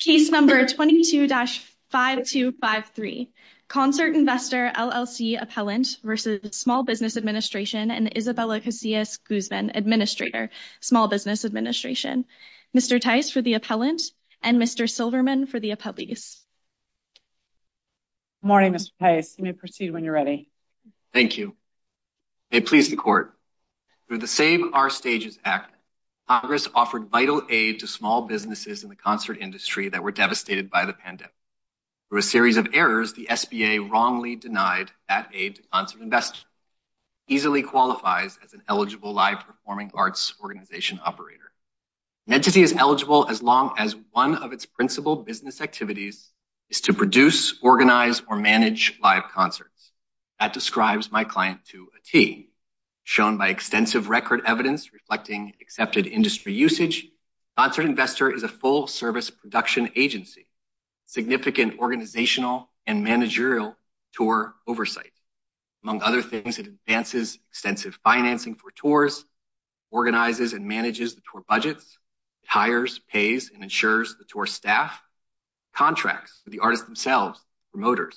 Case number 22-5253, Concert Investor, LLC Appellant v. Small Business Administration and Isabella Casillas Guzman, Administrator, Small Business Administration. Mr. Tice for the appellant and Mr. Silverman for the appellees. Good morning, Mr. Tice. You may proceed when you're ready. Thank you. May it please the court, through the Save Our Stages Act, Congress offered vital aid to small businesses in the concert industry that were devastated by the pandemic. Through a series of errors, the SBA wrongly denied that aid to concert investors. It easily qualifies as an eligible live performing arts organization operator. An entity is eligible as long as one of its principal business activities is to produce, organize, or manage live concerts. That describes my client to a T, shown by extensive record evidence reflecting accepted industry usage. Concert Investor is a full service production agency, significant organizational and managerial tour oversight. Among other things, it advances extensive financing for tours, organizes and manages the tour budgets, hires, pays, and ensures the tour staff, contracts with the artists themselves, promoters.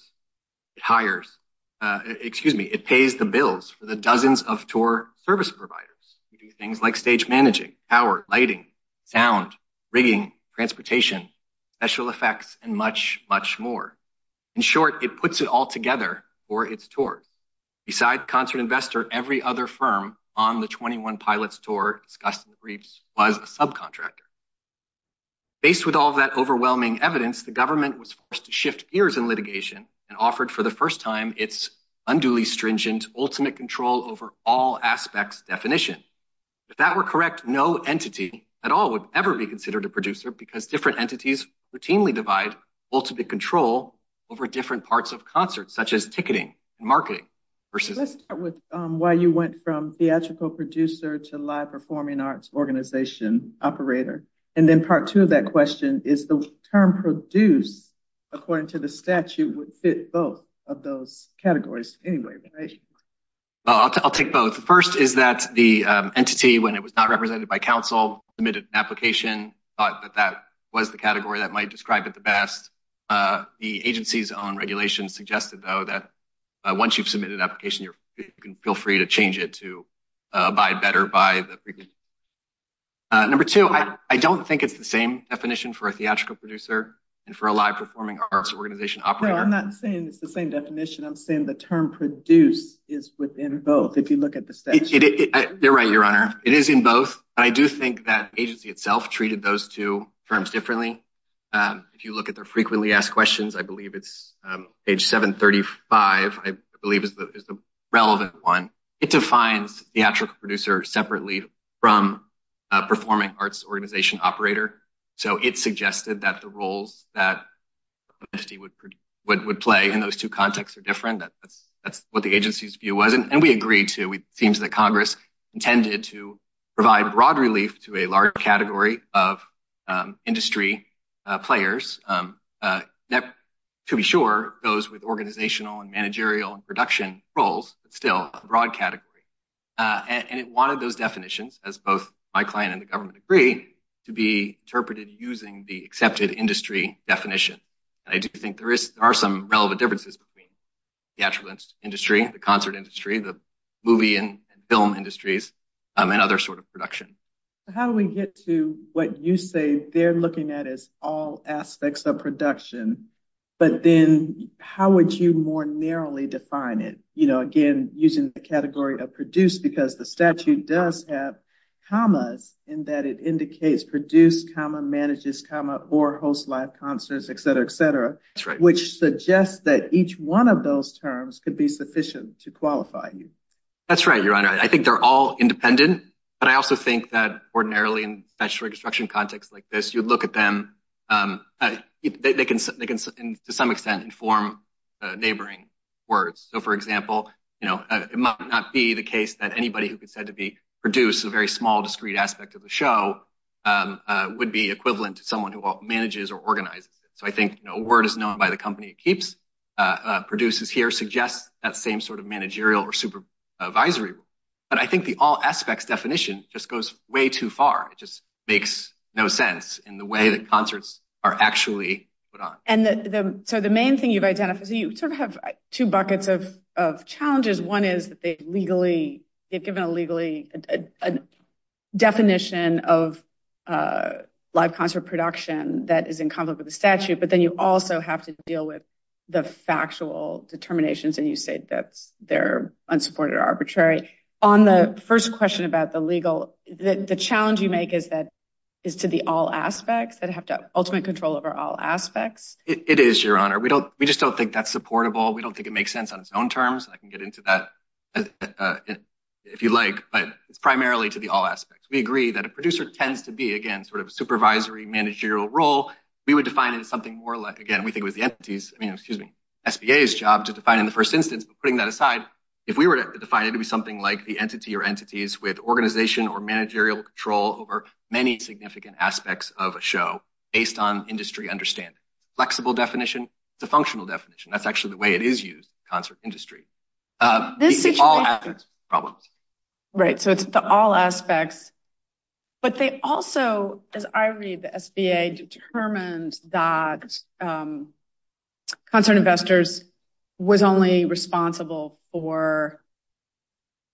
It pays the bills for dozens of tour service providers. We do things like stage managing, power, lighting, sound, rigging, transportation, special effects, and much, much more. In short, it puts it all together for its tours. Beside Concert Investor, every other firm on the Twenty One Pilots tour discussed in the briefs was a subcontractor. Based with all that overwhelming evidence, the government was forced to shift gears in litigation and offered for the first time its unduly stringent, ultimate control over all aspects definition. If that were correct, no entity at all would ever be considered a producer because different entities routinely divide ultimate control over different parts of concerts, such as ticketing and marketing. Let's start with why you went from theatrical producer to live performing arts organization operator, and then part two of that question is the term produce, according to the statute, would fit both of those categories anyway, right? Well, I'll take both. First is that the entity, when it was not represented by council, submitted an application, thought that that was the category that might describe it the best. The agency's own regulations suggested, though, that once you've submitted an application, you can feel free to change it to abide better by the... Number two, I don't think it's the same definition for a theatrical producer and for a live performing arts organization operator. No, I'm not saying it's the same definition. I'm saying the term produce is within both, if you look at the statute. You're right, Your Honor. It is in both, but I do think that agency itself treated those two terms differently. If you look at their frequently asked questions, I believe it's page 735, I believe is the relevant one. It defines theatrical producer separately from performing arts organization operator, so it suggested that the roles that the entity would play in those two contexts are different. That's what the agency's view was, and we agreed to. It seems that Congress intended to provide broad relief to a large category of industry players that, to be sure, those with organizational and managerial and production roles, but still a broad category. And it wanted those definitions, as both my client and the government agree, to be interpreted using the accepted industry definition. I do think there are some relevant differences between the theatrical industry, the concert industry, the movie and film industries, and other sort of production. How do we get to what you say they're looking at as all aspects of production, but then how would you more narrowly define it? Again, using the category of produce because the or host live concerts, etc., etc., which suggests that each one of those terms could be sufficient to qualify you. That's right, Your Honor. I think they're all independent, but I also think that ordinarily in statutory construction context like this, you'd look at them, they can to some extent inform neighboring words. So, for example, it might not be the case that anybody who could said to be produce a very small discrete aspect of the show would be equivalent to someone who manages or organizes it. So I think a word is known by the company it keeps, produces here, suggests that same sort of managerial or supervisory role. But I think the all aspects definition just goes way too far. It just makes no sense in the way that concerts are actually put on. So the main thing you've identified, you sort of have two buckets of that is in conflict with the statute, but then you also have to deal with the factual determinations and you say that they're unsupported or arbitrary. On the first question about the legal, the challenge you make is that is to the all aspects that have to ultimate control over all aspects. It is, Your Honor. We don't we just don't think that's supportable. We don't think it makes sense on its own terms. I can get into that if you like, but it's primarily to the all we would define it as something more like, again, we think it was the entities, excuse me, SBA's job to define in the first instance. But putting that aside, if we were to define it to be something like the entity or entities with organization or managerial control over many significant aspects of a show based on industry understanding. Flexible definition, it's a functional definition. That's actually the way it is used in the concert industry. It's all aspects of the problem. Right. So it's the all aspects. But they also, as I read, the SBA determined that concert investors was only responsible for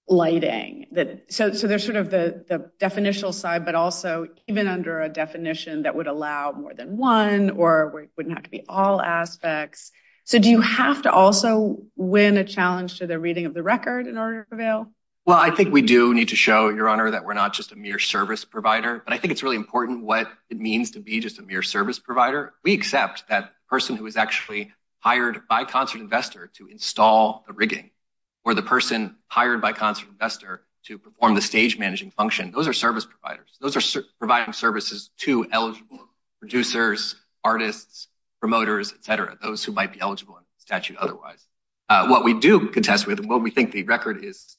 lighting. So there's sort of the definitional side, but also even under a definition that would allow more than one or wouldn't have to be all aspects. So do you have to also win a challenge to the reading of the record in order to prevail? Well, I think we do need to show your honor that we're not just a mere service provider, but I think it's really important what it means to be just a mere service provider. We accept that person who is actually hired by concert investor to install the rigging or the person hired by concert investor to perform the stage managing function. Those are service providers. Those are providing services to eligible producers, artists, promoters, et cetera. Those who might be eligible in statute otherwise. What we do contest with and what we think the record is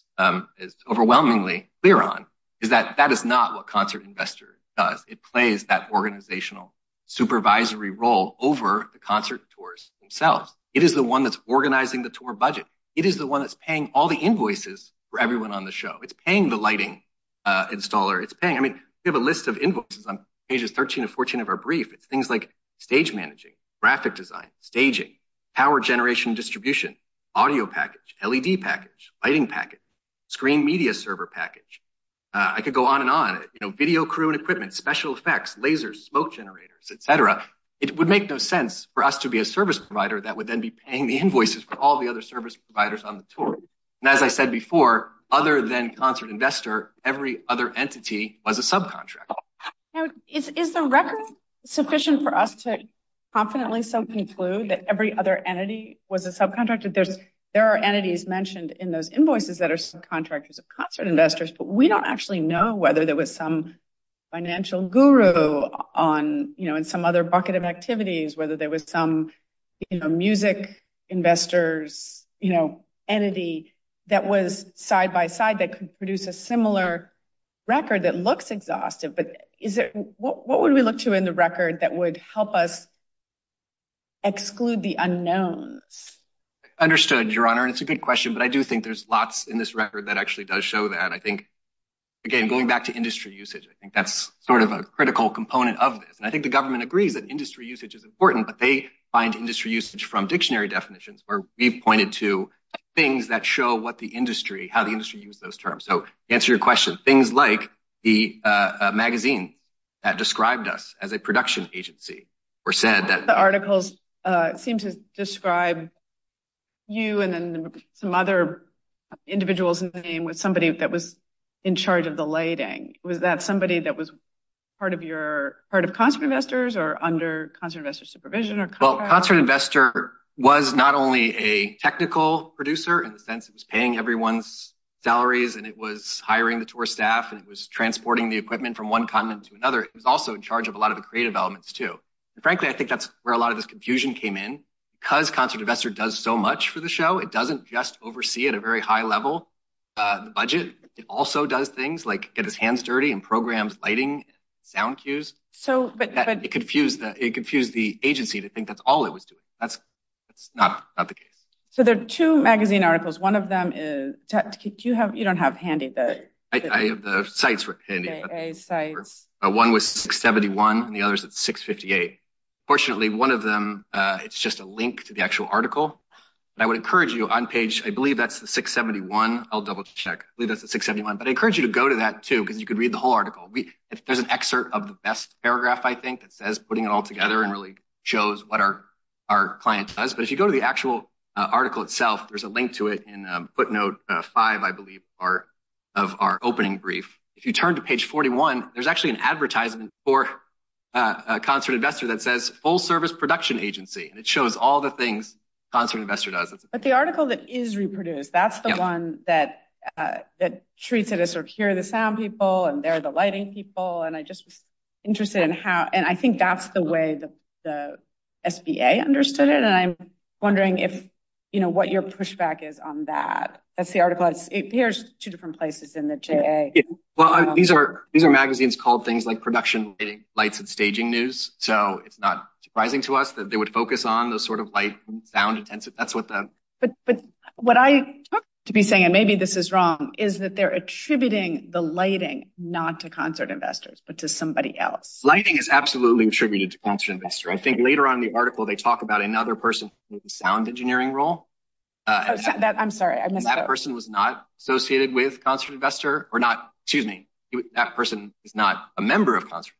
overwhelmingly clear on is that that is not what concert investor does. It plays that organizational supervisory role over the concert tours themselves. It is the one that's organizing the tour budget. It is the one that's paying all the invoices for everyone on the show. It's paying the lighting installer. It's paying. I mean, we have a list of invoices on pages 13 and 14 of our brief. It's things like stage managing, graphic design, staging, power generation distribution, audio package, LED package, lighting package, screen media server package. I could go on and on, video crew and equipment, special effects, lasers, smoke generators, et cetera. It would make no sense for us to be a service provider that would then be paying the invoices for all the other service providers on the tour. As I said before, other than concert investor, every other entity was a subcontractor. Is the record sufficient for us to confidently conclude that every other entity was a subcontractor? There are entities mentioned in those invoices that are subcontractors of concert investors, but we don't actually know whether there was some financial guru in some other activities, whether there was some music investors entity that was side-by-side that could produce a similar record that looks exhaustive. What would we look to in the record that would help us exclude the unknowns? Understood, Your Honor. It's a good question, but I do think there's lots in this record that actually does show that. I think, again, going back to industry usage, I think that's sort of a critical component of this. I think the government agrees that industry usage is important, but they find industry usage from dictionary definitions where we've pointed to things that show how the industry used those terms. To answer your question, things like the magazine that described us as a production agency or said that the articles seemed to describe you and then some other individuals in the name with somebody that was in charge of the concert investor supervision. Well, concert investor was not only a technical producer in the sense it was paying everyone's salaries and it was hiring the tour staff and it was transporting the equipment from one continent to another. It was also in charge of a lot of the creative elements, too. Frankly, I think that's where a lot of this confusion came in because concert investor does so much for the show. It doesn't just oversee at a very high level the budget. It also does things like get his hands dirty and programs lighting and sound cues. It confused the agency to think that's all it was doing. That's not the case. So, there are two magazine articles. One of them is... You don't have handy the... I have the sites handy. One was 671 and the other is at 658. Fortunately, one of them, it's just a link to the actual article. I would encourage you on page... I believe that's the 671. I'll double check. I believe that's the 671. But I encourage you to go to that, too, because you could read the whole article. There's an excerpt of the best paragraph, I think, that says putting it all together and really shows what our client does. But if you go to the actual article itself, there's a link to it in footnote five, I believe, of our opening brief. If you turn to page 41, there's actually an advertisement for a concert investor that says, full service production agency. And it shows all the things concert investor does. But the article that is reproduced, that's the one that treats it as here are the sound people and there are the lighting people. And I just was interested in how... And I think that's the way the SBA understood it. And I'm wondering what your pushback is on that. That's the article. Here's two different places in the JA. Well, these are magazines called things like production, lighting, lights, and staging news. So, it's not surprising to us that they focus on the sort of light and sound intensive. But what I took to be saying, and maybe this is wrong, is that they're attributing the lighting not to concert investors, but to somebody else. Lighting is absolutely attributed to concert investor. I think later on in the article, they talk about another person in the sound engineering role. I'm sorry, I missed that. That person was not associated with concert investor or not, excuse me, that person is not a member of concert.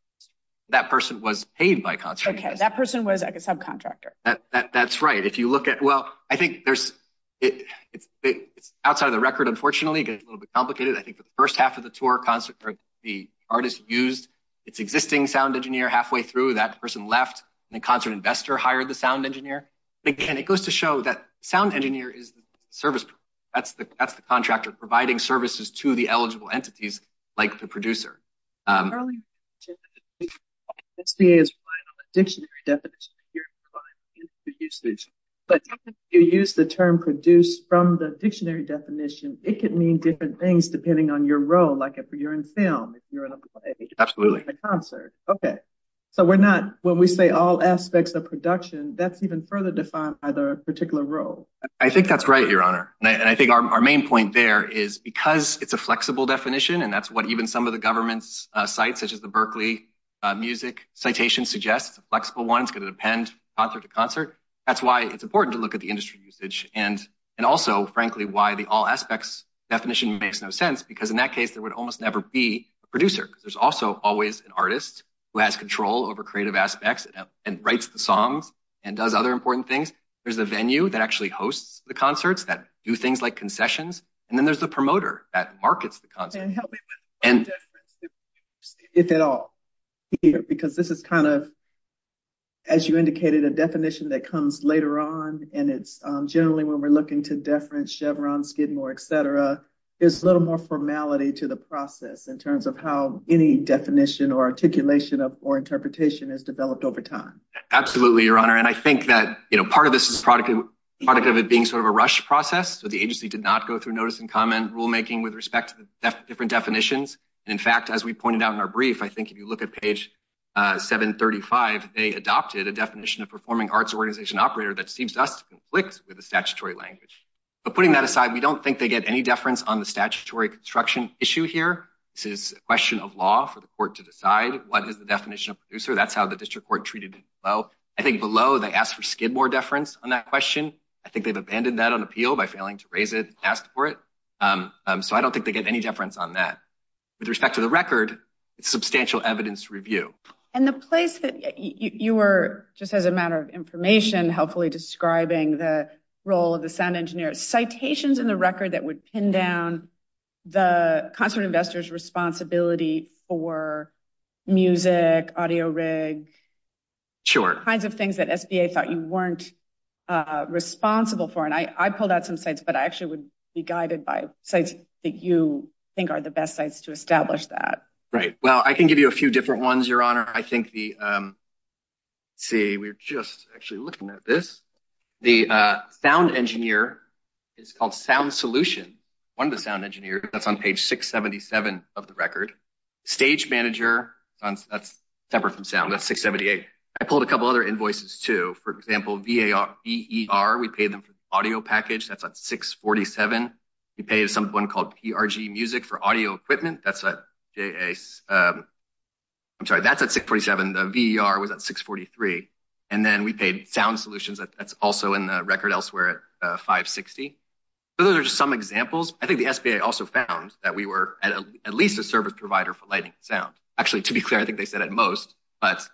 That person was paid by concert. Okay. That person was like a subcontractor. That's right. If you look at... Well, I think there's... It's outside of the record, unfortunately, gets a little bit complicated. I think for the first half of the tour concert, the artist used its existing sound engineer halfway through that person left and the concert investor hired the sound engineer. Again, it goes to show that sound engineer is the service. That's the contractor providing services to the eligible entities like the producer. Early on in the tour, SDA is relying on the dictionary definition. But if you use the term produced from the dictionary definition, it could mean different things depending on your role, like if you're in film, if you're in a play, if you're in a concert. Okay. So we're not... When we say all aspects of production, that's even further defined by the particular role. I think that's right, Your Honor. And I think our main point there is because it's a flexible definition, and that's what even some of the government's sites such as the Berklee Music Citation suggests. It's a flexible one. It's going to depend concert to concert. That's why it's important to look at the industry usage. And also, frankly, why the all aspects definition makes no sense because in that case, there would almost never be a producer because there's also always an artist who has control over creative aspects and writes the songs and does other important things. There's a venue that actually hosts the concerts that do things like concessions. And then there's the promoter that is the producer. If at all, because this is kind of, as you indicated, a definition that comes later on. And it's generally when we're looking to deference, Chevron, Skidmore, et cetera, there's a little more formality to the process in terms of how any definition or articulation or interpretation is developed over time. Absolutely, Your Honor. And I think that part of this is the product of it being sort of a rush process. So the agency did not go through notice and comment rulemaking with respect to the different definitions. And in fact, as we pointed out in our brief, I think if you look at page 735, they adopted a definition of performing arts organization operator that seems to us to conflict with the statutory language. But putting that aside, we don't think they get any deference on the statutory construction issue here. This is a question of law for the court to decide what is the definition of producer. That's how the district court treated it. Well, I think below they asked for Skidmore deference on that question. I think they've abandoned that on appeal by failing to raise it, asked for it. So I don't think they get any deference on that. With respect to the record, it's substantial evidence review. And the place that you were, just as a matter of information, helpfully describing the role of the sound engineer, citations in the record that would pin down the concert investors responsibility for music, audio rig, kinds of things. And I pulled out some sites, but I actually would be guided by sites that you think are the best sites to establish that. Right. Well, I can give you a few different ones, Your Honor. I think the, let's see, we're just actually looking at this. The sound engineer is called Sound Solution. One of the sound engineers, that's on page 677 of the record. Stage manager, that's separate from sound, that's 678. I pulled a couple other invoices too. For example, VER, we paid them for audio package. That's at 647. We paid someone called PRG Music for audio equipment. That's at, I'm sorry, that's at 647. The VER was at 643. And then we paid Sound Solutions. That's also in the record elsewhere at 560. So those are just some examples. I think the SBA also found that we were at least a service provider for lighting and sound. Actually, to be clear, I think they said at most, but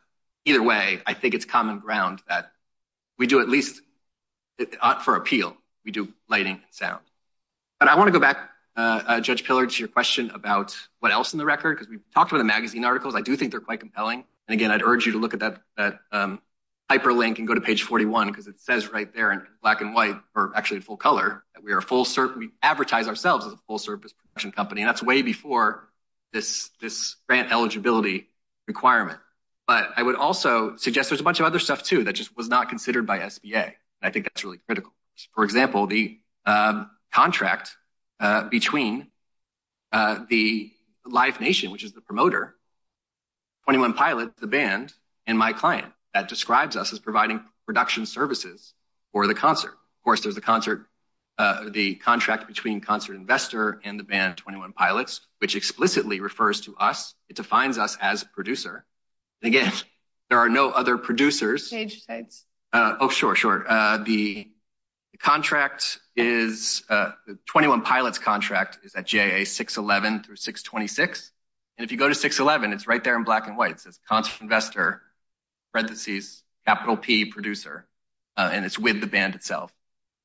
either way, I think it's common ground that we do at least, for appeal, we do lighting and sound. But I want to go back, Judge Pillard, to your question about what else in the record, because we've talked about the magazine articles. I do think they're quite compelling. And again, I'd urge you to look at that hyperlink and go to page 41, because it says right there in black and white, or actually in full color, that we are a full service, we advertise ourselves as a full service production company. And that's way before this grant eligibility requirement. But I would also suggest there's a bunch of other stuff, too, that just was not considered by SBA. I think that's really critical. For example, the contract between the Live Nation, which is the promoter, 21 Pilots, the band, and my client, that describes us as providing production services for the concert. Of course, there's the contract between Concert Investor and the band, 21 Pilots, which explicitly refers to us. It defines us as a producer. And again, there are no other producers. Oh, sure, sure. The 21 Pilots contract is at JAA 611 through 626. And if you go to 611, it's right there in black and white. It says Concert Investor, parentheses, capital P, Producer. And it's with the band itself.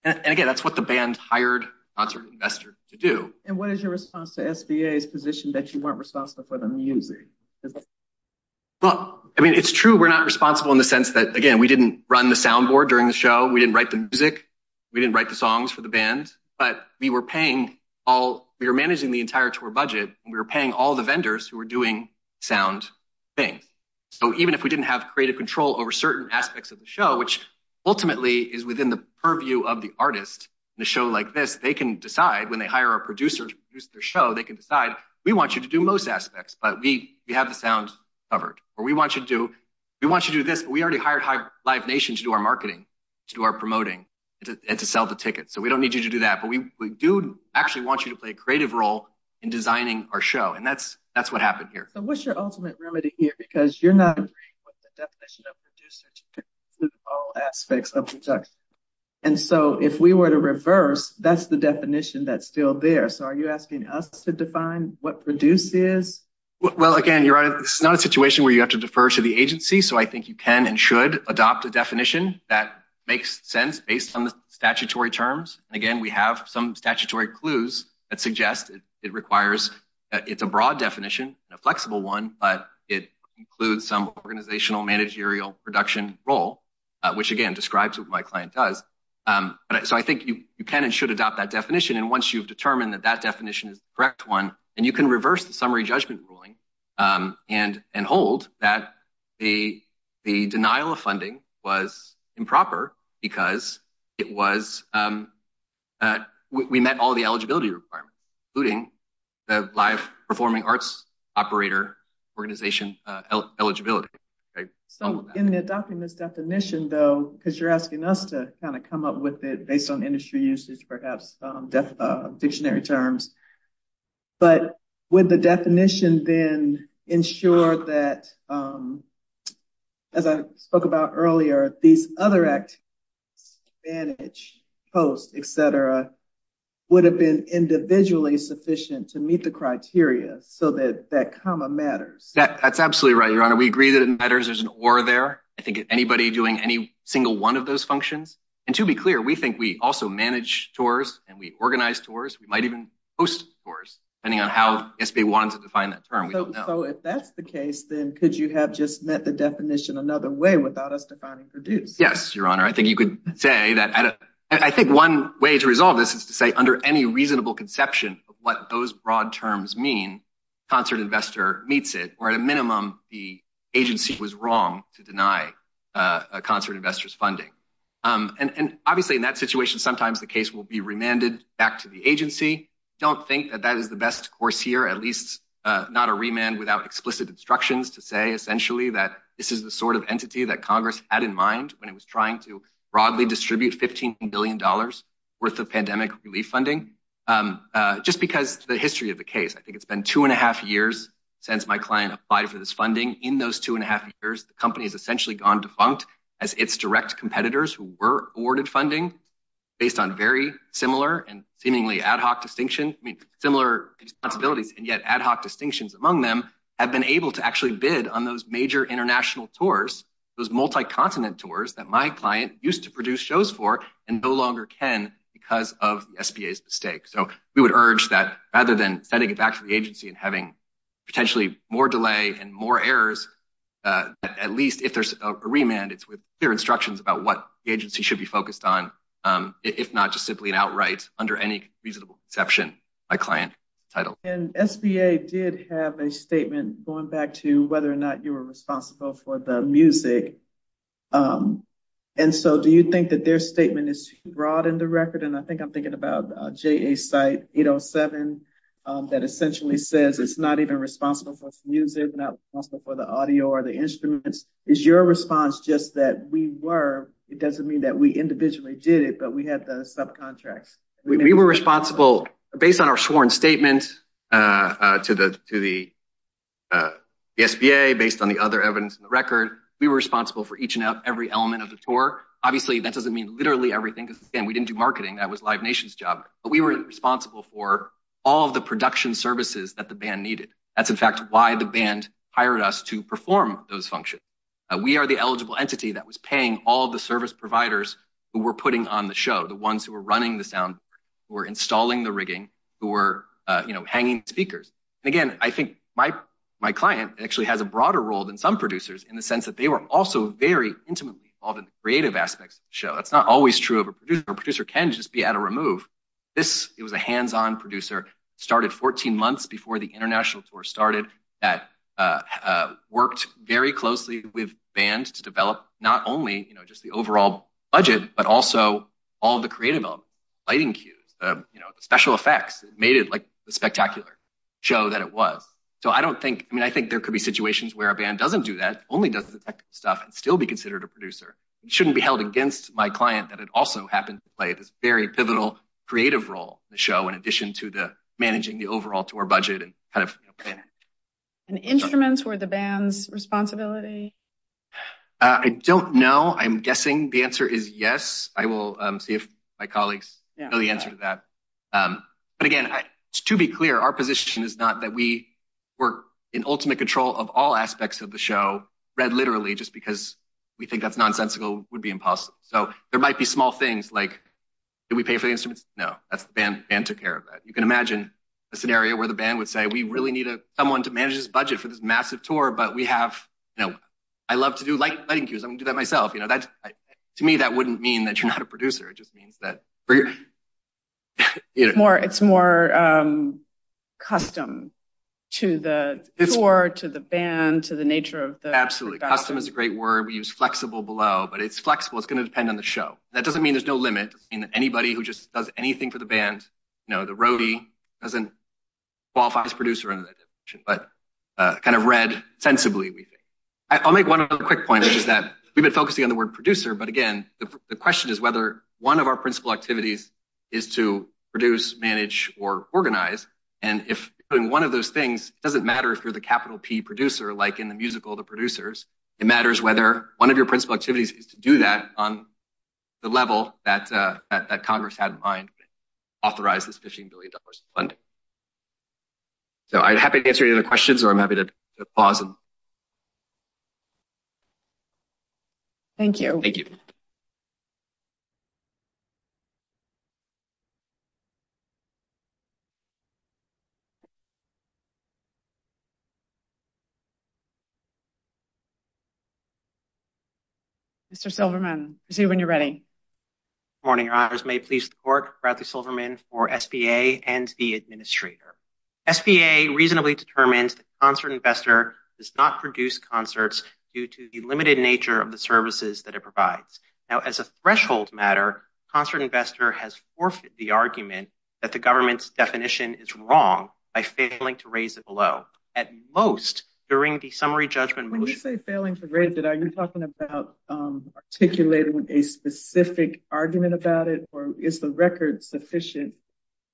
And again, that's what the band hired Concert Investor to do. And what is your response to SBA's position that you weren't responsible for the music? Well, I mean, it's true we're not responsible in the sense that, again, we didn't run the sound board during the show. We didn't write the music. We didn't write the songs for the band. But we were paying all, we were managing the entire tour budget, and we were paying all the vendors who were doing sound things. So even if we didn't have creative control over certain aspects of the show, which ultimately is within the purview of the artist in a show like this, they can decide when they hire a producer to produce their show, they can decide, we want you to do most aspects, but we have the sound covered. Or we want you to do, we want you to do this, but we already hired Live Nation to do our marketing, to do our promoting, and to sell the tickets. So we don't need you to do that. But we do actually want you to play a creative role in designing our show. And that's what happened here. So what's your ultimate remedy here? Because you're not agreeing with the definition of producer to do all aspects of the production. And so if we were to reverse, that's the definition that's still there. So are you asking us to define what produce is? Well, again, you're right. It's not a situation where you have to defer to the agency. So I think you can and should adopt a definition that makes sense based on the statutory terms. Again, we have some statutory clues that suggest it requires, it's a broad definition, a flexible one, but it includes some organizational managerial production role, which again, describes what my client does. So I think you can and should adopt that definition. And once you've determined that that definition is the correct one, and you can reverse the summary judgment ruling and hold that the denial of funding was improper because it was, we met all the eligibility requirements, including the live performing arts operator organization eligibility. So in the document's definition though, because you're asking us to kind of come up with it based on industry usage, perhaps dictionary terms, but with the definition then ensure that, as I spoke about earlier, these other activities, advantage, post, et cetera, would have been individually sufficient to meet the criteria so that that comma matters. That's absolutely right, Your Honor. We agree that it matters. There's an or there. I think anybody doing any single one of those functions. And to be clear, we think we also manage tours and we organize tours. We might even post tours depending on how SBA wants to define that term. We don't know. So if that's the case, then could you have just met the definition another way without us defining produce? Yes, Your Honor. I think you could say that. I think one way to this is to say under any reasonable conception of what those broad terms mean, concert investor meets it, or at a minimum, the agency was wrong to deny a concert investors funding. And obviously in that situation, sometimes the case will be remanded back to the agency. Don't think that that is the best course here, at least not a remand without explicit instructions to say, essentially, that this is the sort of entity that Congress had in mind when it was trying to relieve funding. Just because the history of the case, I think it's been two and a half years since my client applied for this funding. In those two and a half years, the company has essentially gone defunct as its direct competitors who were awarded funding based on very similar and seemingly ad hoc distinction. I mean, similar responsibilities and yet ad hoc distinctions among them have been able to actually bid on those major international tours, those multi-continent tours that my client used to produce shows for and no longer can because of the SBA's mistake. So we would urge that rather than setting it back to the agency and having potentially more delay and more errors, at least if there's a remand, it's with clear instructions about what the agency should be focused on, if not just simply an outright, under any reasonable conception, my client title. And SBA did have a statement going back to whether or not you were responsible for the music. And so do you think that their statement is broad in the record? And I think I'm thinking about JA site 807 that essentially says it's not even responsible for its music, not responsible for the audio or the instruments. Is your response just that we were, it doesn't mean that we individually did it, but we had the subcontracts. We were responsible based on our sworn statement to the SBA based on the other evidence in the record. We were responsible for each and every element of the tour. Obviously, that doesn't mean literally everything. Again, we didn't do marketing. That was Live Nation's job, but we were responsible for all of the production services that the band needed. That's in fact, why the band hired us to perform those functions. We are the eligible entity that was paying all of the service providers who were putting on the show. The ones who were running the sound, who were installing the rigging, who were hanging speakers. And again, I think my client actually has a broader role than some producers in the sense that they were also very intimately involved in the creative aspects of the show. That's not always true of a producer. A producer can just be at a remove. This, it was a hands-on producer, started 14 months before the international tour started, that worked very closely with bands to develop not only just the overall budget, but also all of the creative lighting cues, the special effects. It made it like the spectacular show that it was. So I don't think, I mean, I think there could be situations where a band doesn't do that, only does the technical stuff and still be considered a producer. It shouldn't be held against my client that it also happened to play this very pivotal creative role in the show, in addition to the managing the overall tour budget and kind of planning. And instruments were the band's responsibility? I don't know. I'm guessing the answer is yes. I will see if my colleagues know the answer to that. But again, to be clear, our position is not that we were in ultimate control of all aspects of the show, read literally, just because we think that's nonsensical would be impossible. So there might be small things like, did we pay for the instruments? No, that's the band took care of that. You can imagine a scenario where the band would say, we really need someone to manage this budget for this massive tour. But we have, you know, I love to do lighting cues. I'm gonna do that myself. To me, that wouldn't mean that you're a producer. It just means that it's more custom to the tour, to the band, to the nature of the absolutely custom is a great word. We use flexible below, but it's flexible. It's going to depend on the show. That doesn't mean there's no limit in anybody who just does anything for the band. You know, the roadie doesn't qualify as producer, but kind of read sensibly. I'll make one quick point, which is that we've been focusing on the word producer. But again, the question is whether one of our principal activities is to produce, manage or organize. And if one of those things doesn't matter, if you're the capital P producer, like in the musical, the producers, it matters whether one of your principal activities is to do that on the level that Congress had in mind, authorize this $15 billion in funding. So I'm happy to answer any other questions, or I'm happy to pause. Awesome. Thank you. Mr. Silverman, I see when you're ready. Good morning, your honors. May it please the court, Bradley Silverman for SBA and the SBA. I'm here on behalf of the SBA, and I'm here to ask you a question about whether or not concert investor does not produce concerts due to the limited nature of the services that it provides. Now, as a threshold matter, concert investor has forfeited the argument that the government's definition is wrong by failing to raise it below at most during the summary judgment. When you say failing for granted, are you talking about articulating a specific argument about it, is the record sufficient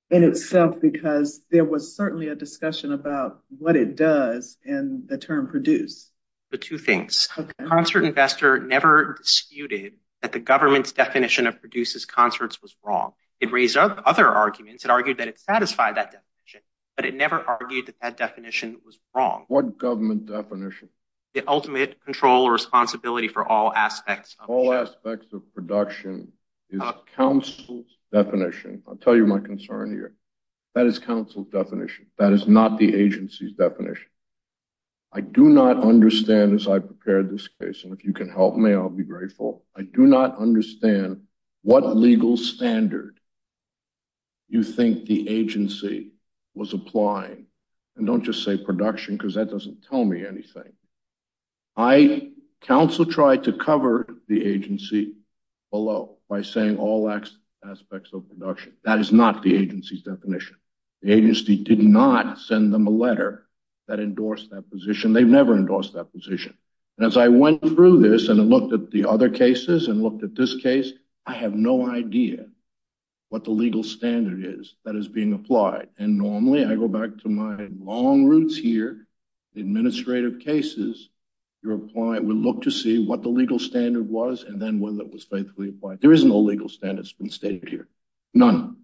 in itself? Because there was certainly a discussion about what it does and the term produce. The two things, concert investor never disputed that the government's definition of produces concerts was wrong. It raised other arguments and argued that it satisfied that definition, but it never argued that that definition was wrong. What government definition? The ultimate control or responsibility for all aspects. All aspects of production is counsel's definition. I'll tell you my concern here. That is counsel's definition. That is not the agency's definition. I do not understand as I prepared this case, and if you can help me, I'll be grateful. I do not understand what legal standard you think the agency was applying. And don't just say production, because that doesn't tell me anything. I counsel tried to cover the agency below by saying all aspects of production. That is not the agency's definition. The agency did not send them a letter that endorsed that position. They've never endorsed that position. And as I went through this and looked at the other cases and looked at this case, I have no idea what the legal standard is that is being applied. And normally I go back to my long roots here, the administrative cases, you're applying, we look to see what the legal standard was, and then whether it was faithfully applied. There is no legal standards been stated here. None.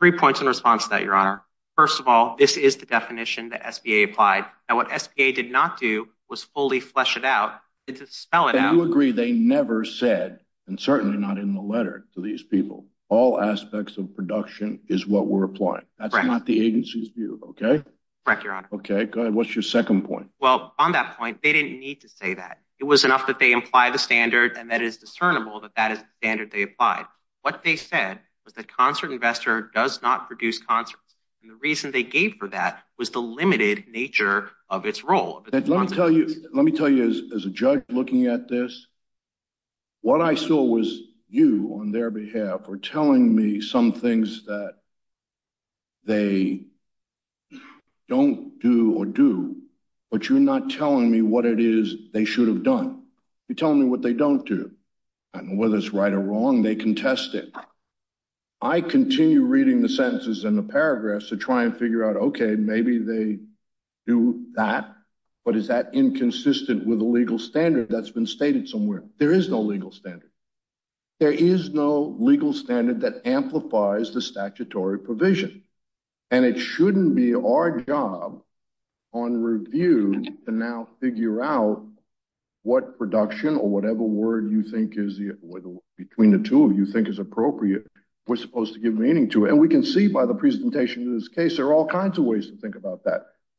Three points in response to that, Your Honor. First of all, this is the definition that SBA applied. And what SBA did not do was fully flesh it out, spell it out. And you agree they never said, and certainly not in the letter to these people, all aspects of production is what we're applying. That's not the agency's view. Okay. Correct, Your Honor. Okay, good. What's your second point? Well, on that point, they didn't need to say that. It was enough that they imply the standard and that is discernible that that is standard they applied. What they said was that concert investor does not produce concerts. And the reason they gave for that was the limited nature of its role. Let me tell you, let me tell you, as a judge looking at this, what I saw was you on their behalf are telling me some things that they don't do or do. But you're not telling me what it is they should have done. You're telling me what they don't do. And whether it's right or wrong, they contest it. I continue reading the sentences and the paragraphs to try and figure out, okay, maybe they do that. But is that inconsistent with the legal standard that's been stated somewhere? There is no legal standard. There is no legal standard that amplifies the statutory provision. And it shouldn't be our job on review to now figure out what production or whatever word between the two of you think is appropriate, we're supposed to give meaning to it. And we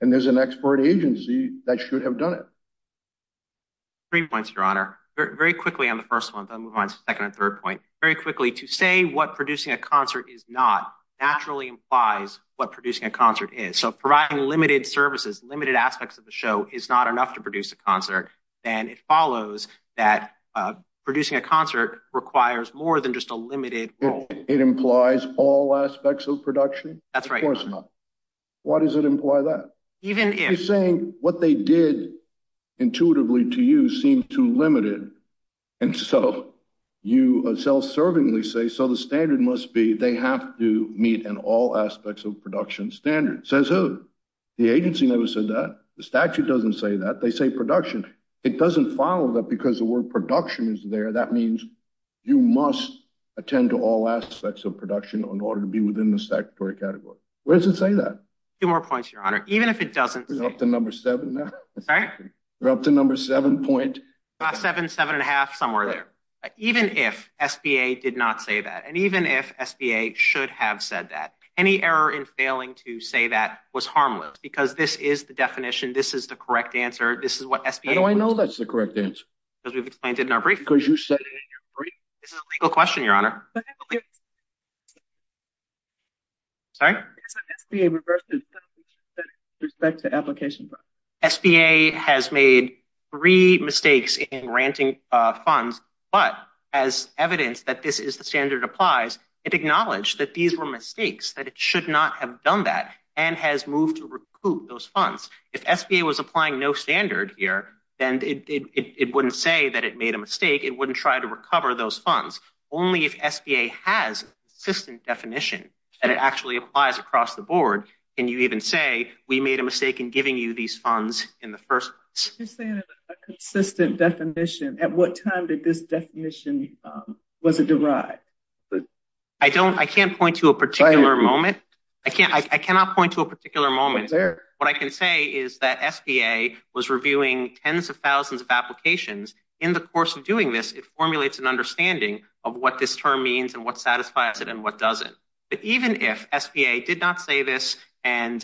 and there's an expert agency that should have done it. Three points, Your Honor. Very quickly on the first one, I'll move on to the second and third point very quickly to say what producing a concert is not naturally implies what producing a concert is. So providing limited services, limited aspects of the show is not enough to produce a concert. And it follows that producing a concert requires more than just a limited role. It implies all aspects of production. That's right. Why does it imply that? Even if... You're saying what they did intuitively to you seem too limited. And so you self-servingly say, so the standard must be they have to meet an all aspects of production standard. Says who? The agency never said that. The statute doesn't say that. They say production. It doesn't follow that because the word production is there, that means you must attend to all aspects of production in order to be within the statutory category. Where does it say that? Two more points, Your Honor. Even if it doesn't... You're up to number seven now. Sorry? You're up to number seven point... About seven, seven and a half, somewhere there. Even if SBA did not say that, and even if SBA should have said that, any error in failing to say that was harmless because this is the definition. This is the correct answer. This is what SBA... How do I know that's the correct answer? Because we've explained it in our brief. Because you said it in your brief? This is a legal question, Your Honor. But I believe... Sorry? SBA reversed the statute with respect to application funds. SBA has made three mistakes in granting funds, but as evidence that this is the standard applies, it acknowledged that these were mistakes, that it should not have done that, and has moved to recoup those funds. If SBA was applying no standard here, then it wouldn't say that it made a mistake. It wouldn't try to recover those funds. Only if SBA has a consistent definition, and it actually applies across the board, can you even say, we made a mistake in giving you these funds in the first place. You're saying a consistent definition. At what time did this definition... Was it derived? I can't point to a particular moment. I cannot point to a particular moment. What I can say is that SBA was reviewing tens of thousands of applications. In the course of doing this, it formulates an understanding of what this term means, and what satisfies it, and what doesn't. But even if SBA did not say this, and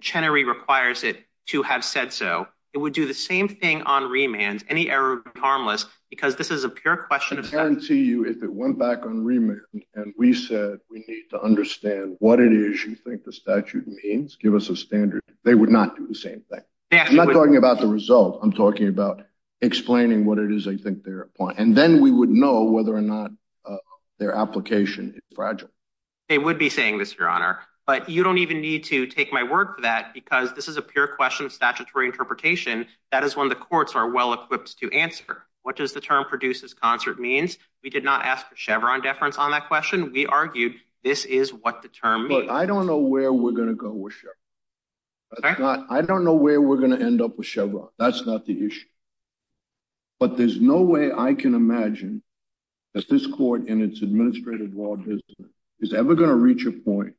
Chenery requires it to have said so, it would do the same thing on remand, any error would be harmless, because this is a pure question of... I guarantee you, if it went back on remand, and we said we need to understand what it is you think the statute means, give us a standard, they would not do the same thing. I'm not talking about the result. I'm talking about explaining what it is they think they're applying. And then we would know whether or not their application is fragile. They would be saying this, Your Honor. But you don't even need to take my word for that, because this is a pure question of statutory interpretation. That is one the courts are well-equipped to answer. What does the term produces concert means? We did not ask for Chevron deference on that question. We argued this is what the term means. I don't know where we're going to go with Chevron. I don't know where we're going to end up with Chevron. That's not the issue. But there's no way I can imagine that this court, and its administrative law, is ever going to reach a point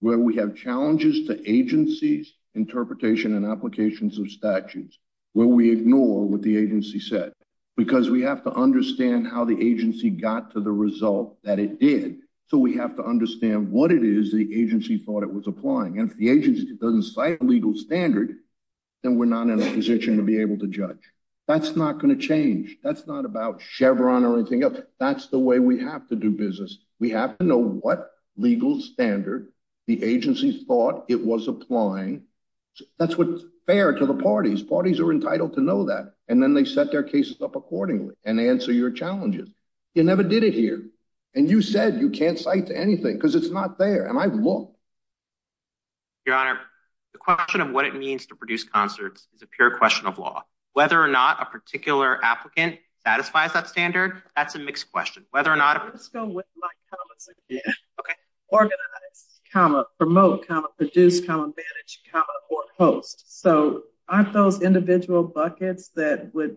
where we have challenges to agencies' interpretation and applications of statutes, where we ignore what the agency said. Because we have to understand how the agency got to the result that it did. So we have to understand what it is the agency thought it was applying. And if the agency doesn't cite a legal standard, then we're not in a position to be able to judge. That's not going to change. That's not about Chevron or anything else. That's the way we have to do business. We have to know what legal standard the agency thought it was applying. That's what's fair to the parties. Parties are entitled to know that. And then they set their cases up accordingly and answer your challenges. You never did it here. And you said you can't cite to anything, because it's not there. And I've looked. Your Honor, the question of what it means to produce concerts is a pure question of law. Whether or not a particular applicant satisfies that standard, that's a mixed question. Whether or not... Let's go with my comments again. OK. Organize, promote, produce, manage, or host. So aren't those individual buckets that would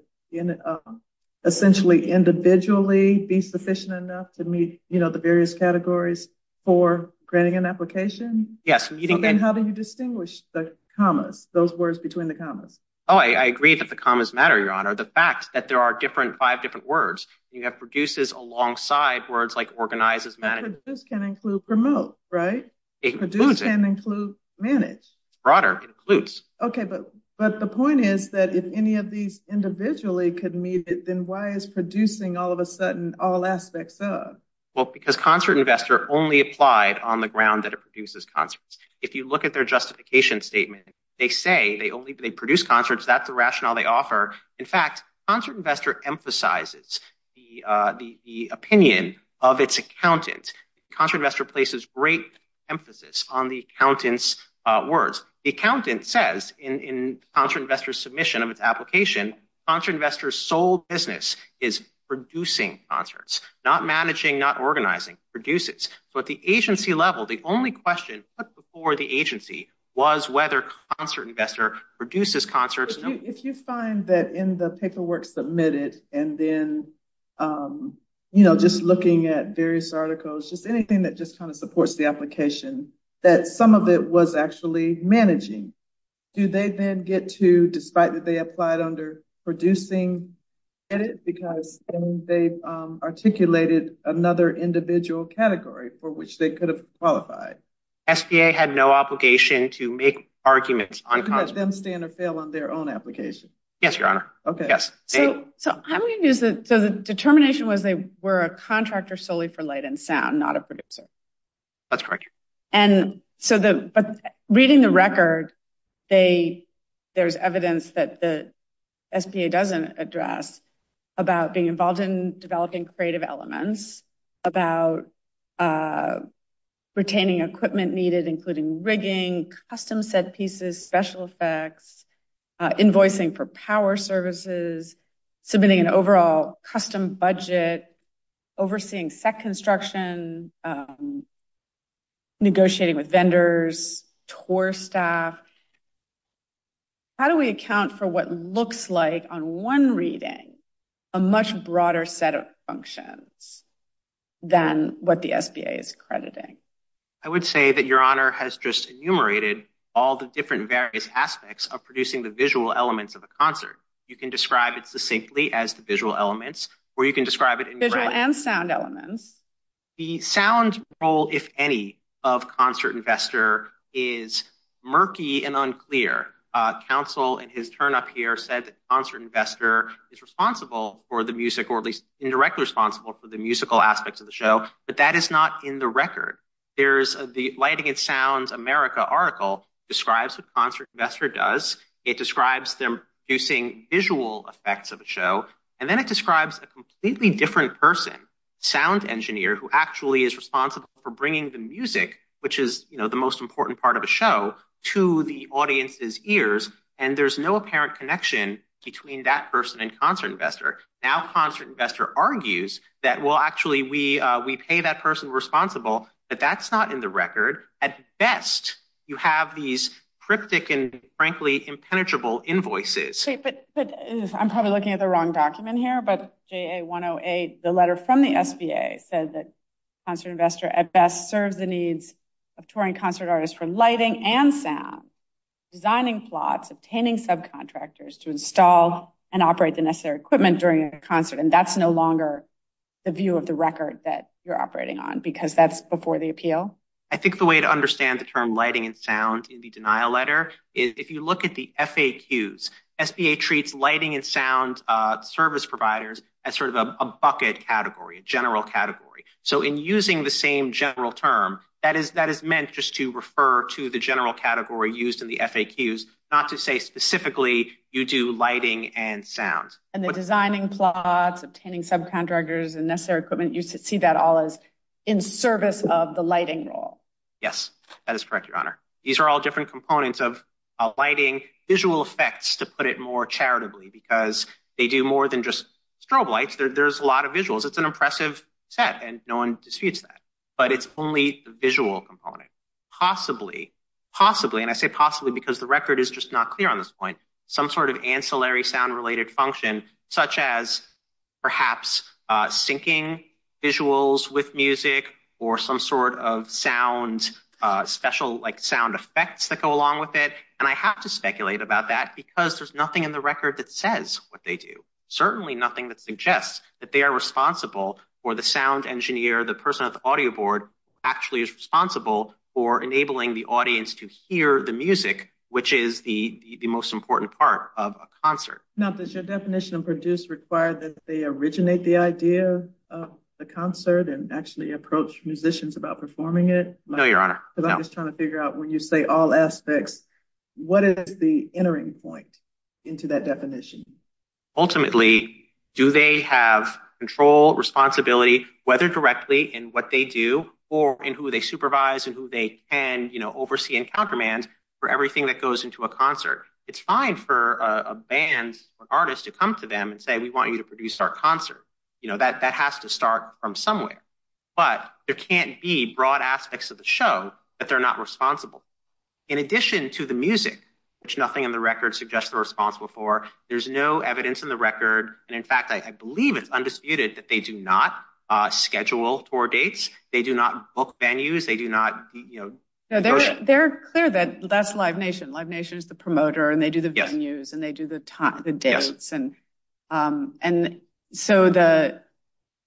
essentially individually be sufficient enough to meet the various categories for creating an application? Yes. Then how do you distinguish the commas, those words between the commas? Oh, I agree that the commas matter, Your Honor. The fact that there are five different words, you have produces alongside words like organizes, manages. But produce can include promote, right? It includes it. Produce can include manage. Broader, it includes. OK, but the point is that if any of these individually could meet it, then why is producing all of a sudden all aspects of? Well, because concert investor only applied on the ground that it produces concerts. If you look at their justification statement, they say they only produce concerts. That's the rationale they offer. In fact, concert investor emphasizes the opinion of its accountant. Concert investor places great emphasis on the accountant's words. The accountant says in concert investor submission of its application, concert investor's sole business is producing concerts, not managing, not organizing, produces. So at the agency level, the only question put before the agency was whether concert investor produces concerts. If you find that in the paperwork submitted and then, you know, just looking at various articles, just anything that just kind of supports the application, that some of it was actually managing. Do they then get to, despite that they applied under producing, because they've articulated another individual category for which they could have qualified? SBA had no obligation to make arguments on concert. Let them stand or fail on their own application. Yes, your honor. OK, so I'm going to use it. So the determination was they were a contractor solely for light and sound, not a producer. That's correct. And so reading the record, there's evidence that the SBA doesn't address about being involved in developing creative elements, about retaining equipment needed, including rigging, custom set pieces, special effects, invoicing for power services, submitting an overall custom budget, overseeing set construction, negotiating with vendors, tour staff. How do we account for what looks like on one reading a much broader set of functions than what the SBA is accrediting? I would say that your honor has just enumerated all the different various aspects of producing the visual elements of a concert. You can describe it succinctly as the visual elements or you can describe it in visual and sound elements. The sound role, if any, of Concert Investor is murky and unclear. Counsel, in his turn up here, said that Concert Investor is responsible for the music or at least indirectly responsible for the musical aspects of the show. But that is not in the record. There's the Lighting and Sound America article describes what Concert Investor does. It describes them producing visual effects of a show. And then it describes a completely different person, Sound Engineer, who actually is responsible for bringing the music, which is the most important part of a show, to the audience's ears. And there's no apparent connection between that person and Concert Investor. Now Concert Investor argues that, well, actually, we pay that person responsible. But that's not in the record. At best, you have these cryptic and, frankly, impenetrable invoices. I'm probably looking at the wrong document here. But JA-108, the letter from the SBA, said that Concert Investor at best serves the needs of touring concert artists for lighting and sound, designing plots, obtaining subcontractors to install and operate the necessary equipment during a concert. And that's no longer the view of the record that you're operating on, because that's before the appeal. I think the way to understand the term lighting and sound in the denial letter is if you look at the FAQs, SBA treats lighting and sound service providers as sort of a bucket category, a general category. So in using the same general term, that is meant just to refer to the general category used in the FAQs, not to say specifically you do lighting and sound. And the designing plots, obtaining subcontractors, and necessary equipment, you see that all as in service of the lighting role. Yes, that is correct, Your Honor. These are all different components of lighting, visual effects, to put it more charitably, because they do more than just strobe lights. There's a lot of visuals. It's an impressive set, and no one disputes that. But it's only the visual component. Possibly, possibly, and I say possibly because the record is just not clear on this point, some sort of ancillary sound-related function, such as perhaps syncing visuals with music or some sort of sound, special sound effects that go along with it. And I have to speculate about that because there's nothing in the record that says what they do, certainly nothing that suggests that they are responsible for the sound engineer, the person at the audio board, actually is responsible for enabling the audience to hear the music, which is the most important part of a concert. Now, does your definition of produce require that they originate the idea of the concert and actually approach musicians about performing it? No, Your Honor. Because I'm just trying to figure out when you say all aspects, what is the entering point into that definition? Ultimately, do they have control, responsibility, whether directly in what they do or in who they supervise and who they can oversee and countermand for everything that goes into a concert? It's fine for a band or artist to come to them and say, we want you to produce our concert. That has to start from somewhere. But there can't be broad aspects of the show that they're not responsible. In addition to the music, which nothing in the record suggests they're responsible for, there's no evidence in the record. And in fact, I believe it's undisputed that they do not schedule tour dates. They do not book venues. They do not, you know. They're clear that that's Live Nation. Live Nation is the promoter and they do the venues and they do the dates. And so the,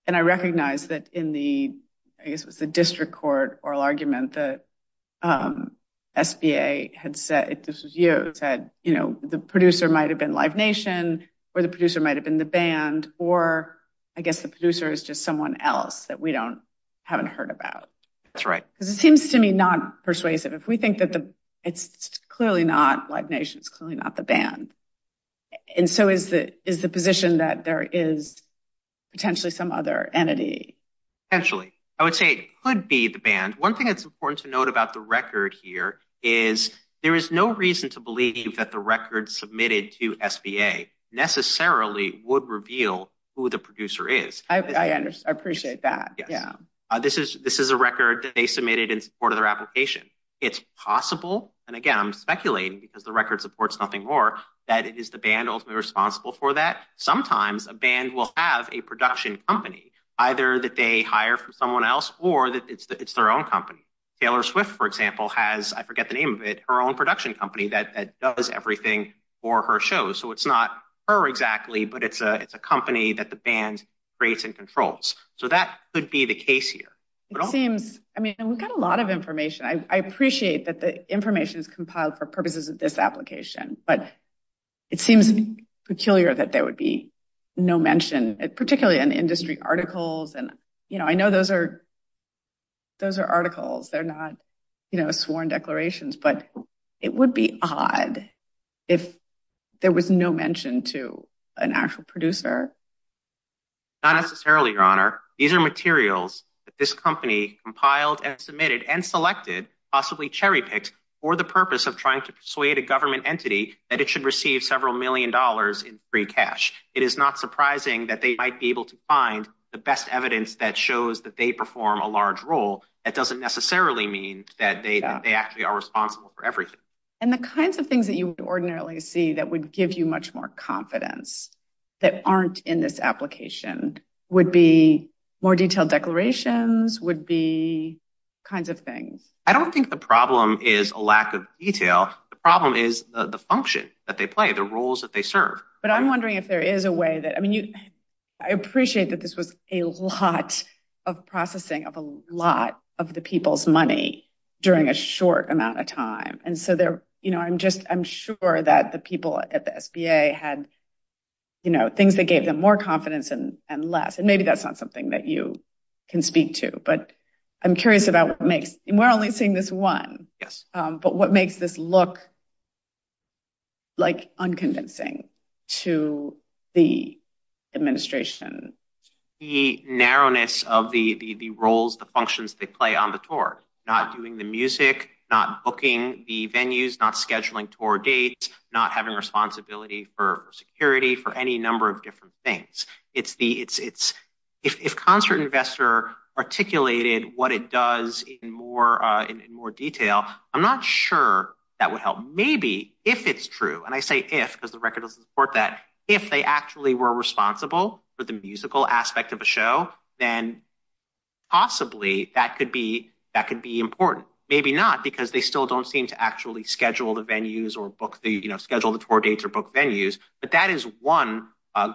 and I recognize that in the, I guess it was the district court oral argument, the SBA had said, this was you, said, you know, the producer might've been Live Nation or the producer might've been the band or I guess the producer is just someone else that we don't, haven't heard about. That's right. Because it seems to me not persuasive. If we think that it's clearly not Live Nation, it's clearly not the band. And so is the position that there is potentially some other entity? Potentially. I would say it could be the band. One thing that's important to note about the record here is there is no reason to believe that the record submitted to SBA necessarily would reveal who the producer is. I appreciate that. Yeah. This is a record that they submitted in support of their application. It's possible. And again, I'm speculating because the record supports nothing more that it is the band ultimately responsible for that. Sometimes a band will have a production company, either that they hire from someone else or that it's their own company. Taylor Swift, for example, has, I forget the name of it, her own production company that does everything for her shows. So it's not her exactly, but it's a company that the band creates and controls. So that could be the case here. It seems, I mean, we've got a lot of information. I appreciate that the information is compiled for purposes of this application, but it seems peculiar that there would be no mention, particularly in industry articles. And I know those are articles. They're not sworn declarations, but it would be odd if there was no mention to an actual producer. Not necessarily, Your Honor. These are materials that this company compiled and submitted and selected, possibly cherry-picked for the purpose of trying to persuade a government entity that it should receive several million dollars in free cash. It is not surprising that they might be able to find the best evidence that shows that they perform a large role. That doesn't necessarily mean that they actually are responsible for everything. And the kinds of things that you would ordinarily see that would give you much more confidence that aren't in this application would be more detailed declarations, would be kinds of things. I don't think the problem is a lack of detail. The problem is the function that they play, the roles that they serve. But I'm wondering if there is a way that, I appreciate that this was a lot of processing of a lot of the people's money during a short amount of time. And so I'm sure that the people at the SBA had things that gave them more confidence and less. And maybe that's not something that you can speak to. But I'm curious about what makes, and we're only seeing this one, but what makes this look unconvincing to the administration? The narrowness of the roles, the functions they play on the tour, not doing the music, not booking the venues, not scheduling tour dates, not having responsibility for security for any number of different things. It's the, if concert investor articulated what it does in more detail, I'm not sure that would help. Maybe if it's true, and I say if, because the record doesn't support that, if they actually were responsible for the musical aspect of a show, then possibly that could be important. Maybe not because they still don't seem to actually schedule the venues or book the, schedule the tour dates or book venues. But that is one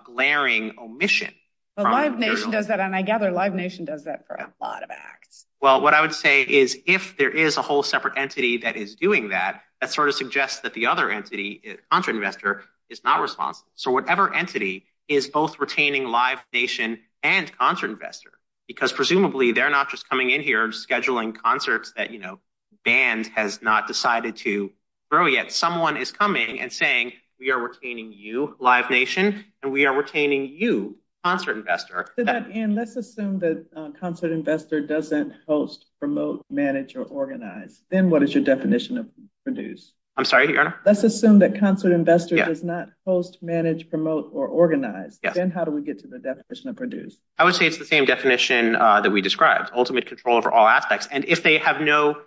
glaring omission. But Live Nation does that, and I gather Live Nation does that for a lot of acts. Well, what I would say is if there is a whole separate entity that is doing that, that sort of suggests that the other entity, concert investor, is not responsible. So whatever entity is both retaining Live Nation and concert investor, because presumably they're not just coming in here scheduling concerts that, you know, band has not decided to throw yet. Someone is coming and saying, we are retaining you, Live Nation, and we are retaining you, concert investor. To that end, let's assume that concert investor doesn't host, promote, manage, or organize. Then what is your definition of produce? I'm sorry, Your Honor? Let's assume that concert investor does not host, manage, promote, or organize. Then how do we get to the definition of produce? I would say it's the same definition that we described, ultimate control over all aspects. And if they have no-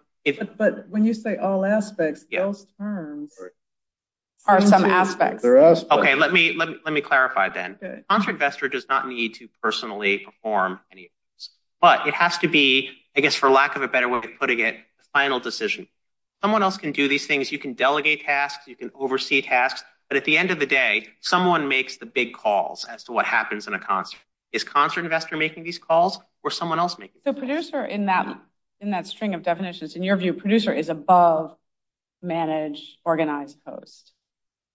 But when you say all aspects, those terms are some aspects. Okay, let me clarify then. Concert investor does not need to personally perform any of those. But it has to be, I guess, for lack of a better way of putting it, final decision. Someone else can do these things. You can delegate tasks. You can oversee tasks. But at the end of the day, someone makes the big calls as to what happens in a concert. Is concert investor making these calls or someone else making these calls? So producer, in that string of definitions, in your view, producer is above manage, organize, host.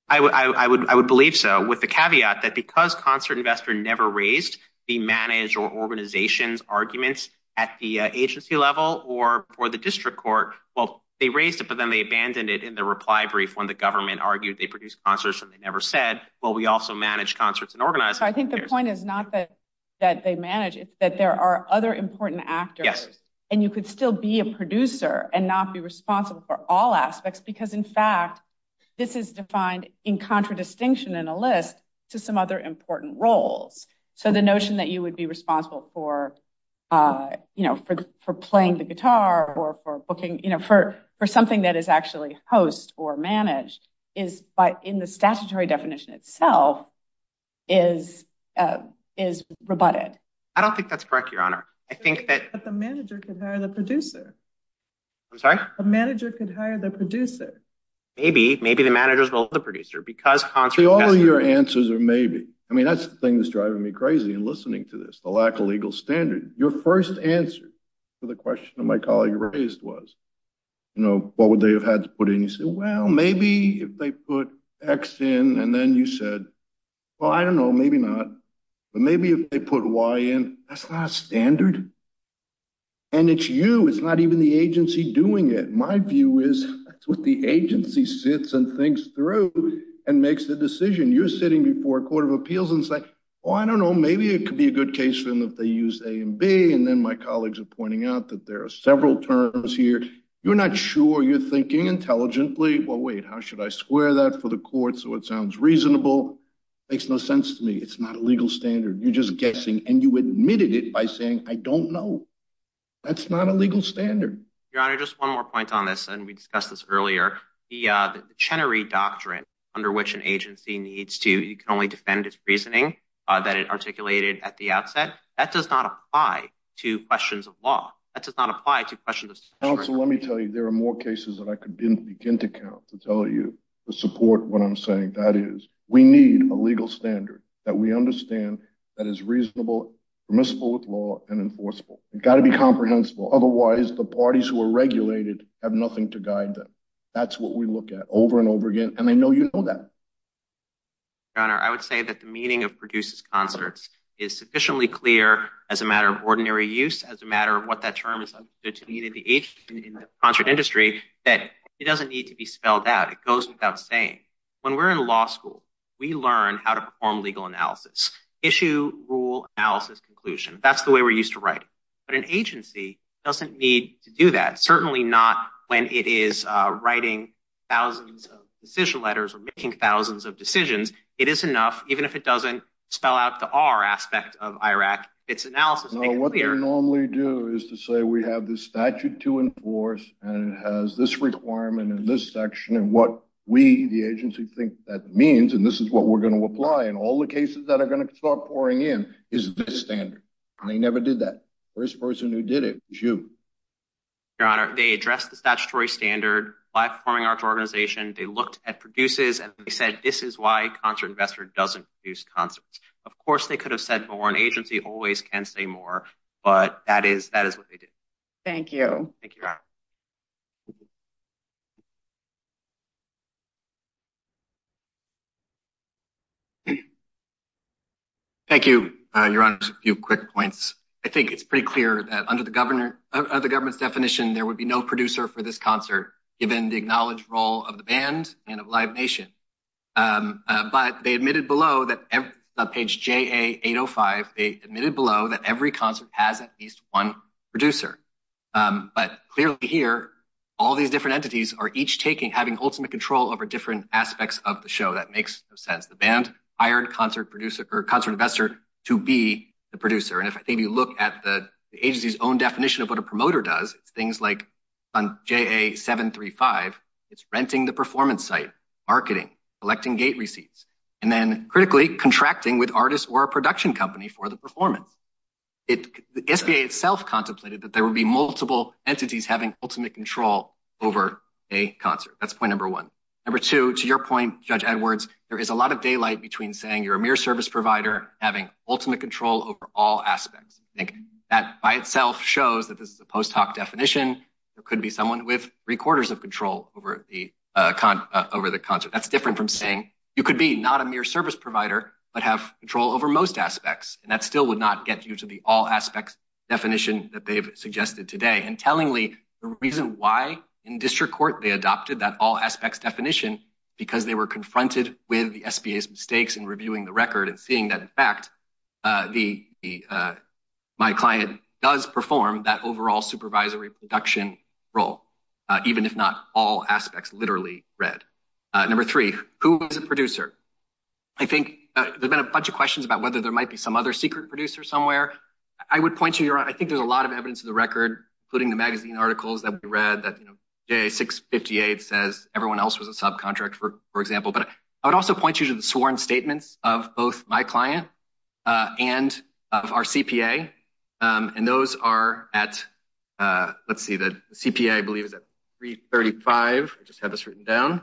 I would believe so with the caveat that because concert investor never raised the manage or organizations arguments at the agency level or the district court. Well, they raised it, but then they abandoned it in the reply brief when the government argued they produced concerts and they never said, well, we also manage concerts and organize- I think the point is not that they manage, it's that there are other important actors and you could still be a producer and not be responsible for all aspects. Because in fact, this is defined in contradistinction in a list to some other important roles. So the notion that you would be responsible for playing the guitar or for booking, for something that is actually host or managed is by in the statutory definition itself is rebutted. I don't think that's correct, Your Honor. I think that- But the manager could hire the producer. I'm sorry? The manager could hire the producer. Maybe, maybe the managers will the producer because concert- All of your answers are maybe. I mean, that's the thing that's driving me crazy in listening to this. The lack of legal standards. Your first answer to the question that my colleague raised was, you know, what would they have had to put in? You said, well, maybe if they put X in and then you said, well, I don't know, maybe not. But maybe if they put Y in, that's not a standard. And it's you, it's not even the agency doing it. My view is that's what the agency sits and thinks through and makes the decision. You're sitting before a court of appeals and say, well, I don't know, maybe it could be a good case for them if they use A and B. And then my colleagues are pointing out that there are several terms here. You're not sure you're thinking intelligently. Well, wait, how should I square that for the court so it sounds reasonable? Makes no sense to me. It's not a legal standard. You're just guessing. And you admitted it by saying, I don't know. That's not a legal standard. Your Honor, just one more point on this. And we discussed this earlier. The Chenery Doctrine, under which an agency needs to, you can only defend its reasoning that it articulated at the outset. That does not apply to questions of law. That does not apply to questions of- Counsel, let me tell you, there are more cases that I could begin to count to tell you to support what I'm saying. That is, we need a legal standard that we understand that is reasonable, permissible with law and enforceable. It gotta be comprehensible. Otherwise, the parties who are regulated have nothing to guide them. That's what we look at over and over again. And I know you know that. Your Honor, I would say that the meaning of produces concerts is sufficiently clear as a matter of ordinary use, as a matter of what that term is. I'm good to meet at the age in the concert industry that it doesn't need to be spelled out. It goes without saying. When we're in law school, we learn how to perform legal analysis, issue, rule, analysis, conclusion. That's the way we're used to writing. But an agency doesn't need to do that. Certainly not when it is writing thousands of decision letters or making thousands of decisions. It is enough. Even if it doesn't spell out the R aspect of IRAC, it's analysis is clear. What they normally do is to say we have this statute to enforce and it has this requirement in this section and what we, the agency, think that means. And this is what we're going to apply in all the cases that are going to start pouring in is this standard. And they never did that. First person who did it was you. Your Honor, they addressed the statutory standard by performing arts organization. They looked at produces and they said, this is why a concert investor doesn't produce concerts. Of course, they could have said more. An agency always can say more, but that is what they did. Thank you. Thank you, Your Honor. A few quick points. I think it's pretty clear that under the government's definition, there would be no producer for this concert given the acknowledged role of the band and of Live Nation. But they admitted below that page JA805, they admitted below that every concert has at least one producer. But clearly here, all these different entities are each taking, having ultimate control over different aspects of the show. That makes no sense. The band hired concert producer or concert investor to be the producer. And if you look at the agency's own definition of what a promoter does, it's things like on JA735, it's renting the performance site, marketing, collecting gate receipts, and then critically contracting with artists or a production company for the performance. The SBA itself contemplated that there would be multiple entities having ultimate control over a concert. That's point number one. Number two, to your point, Judge Edwards, there is a lot of daylight between saying you're a mere service provider having ultimate control over all aspects. I think that by itself shows that this is a post hoc definition. There could be someone with three quarters of control over the concert. That's different from saying you could be not a mere service provider, but have control over most aspects. And that still would not get you to the all aspects definition that they've suggested today. And tellingly, the reason why in district court, they adopted that all aspects definition because they were confronted with the SBA's mistakes in reviewing the record and seeing that in fact, my client does perform that overall supervisory production role. Even if not all aspects literally read. Number three, who is a producer? I think there's been a bunch of questions about whether there might be some other secret producer somewhere. I would point to your, I think there's a lot of evidence of the record, including the magazine articles that we read that, you know, J658 says everyone else was a subcontractor, for example. But I would also point you to the sworn statements of both my client and of our CPA. And those are at, let's see, the CPA, I believe is at 335. I just have this written down.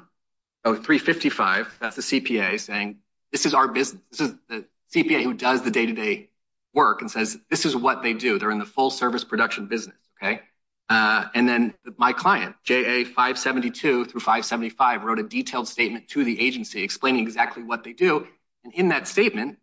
Oh, 355. That's the CPA saying, this is our business. This is the CPA who does the day-to-day work and says, this is what they do. They're in the full service production business, okay? And then my client, JA572 through 575 wrote a detailed statement to the agency explaining exactly what they do. And in that statement,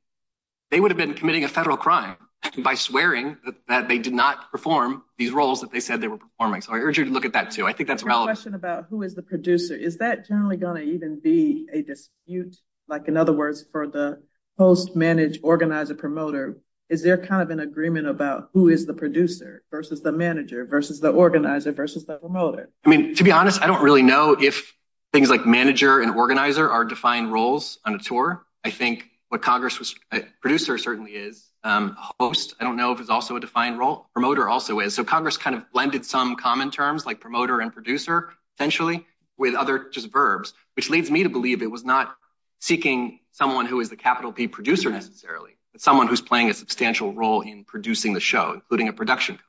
they would have been committing a federal crime by swearing that they did not perform these roles that they said they were performing. So I urge you to look at that too. I think that's relevant. My question is about who is the producer? Is that generally gonna even be a dispute? Like, in other words, for the host, manage, organizer, promoter, is there kind of an agreement about who is the producer versus the manager versus the organizer versus the promoter? I mean, to be honest, I don't really know if things like manager and organizer are defined roles on a tour. I think what Congress was, producer certainly is. Host, I don't know if it's also a defined role. Promoter also is. So Congress kind of blended some common terms like promoter and producer, potentially, with other just verbs, which leads me to believe it was not seeking someone who is the capital P producer, necessarily, but someone who's playing a substantial role in producing the show, including a production.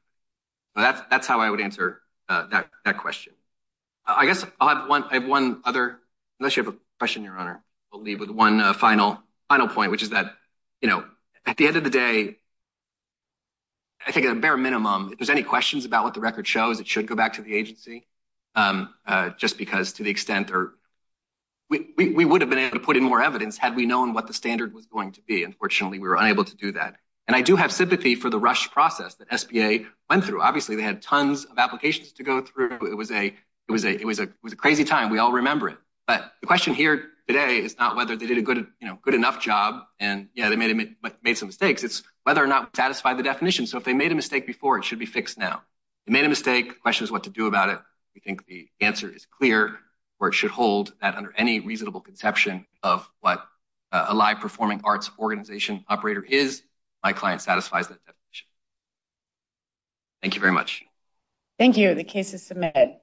That's how I would answer that question. I guess I have one other, unless you have a question, Your Honor, I'll leave with one final point, which is that, you know, at the end of the day, I think at a bare minimum, there's any questions about what the record shows. It should go back to the agency just because to the extent or we would have been able to put in more evidence had we known what the standard was going to be. Unfortunately, we were unable to do that. And I do have sympathy for the rush process that SBA went through. Obviously, they had tons of applications to go through. It was a crazy time. We all remember it. But the question here today is not whether they did a good enough job. And yeah, they made some mistakes. It's whether or not satisfy the definition. So if they made a mistake before, it should be fixed now. They made a mistake. The question is what to do about it. We think the answer is clear or it should hold that under any reasonable conception of what a live performing arts organization operator is, my client satisfies that definition. Thank you very much. Thank you. The case is submitted.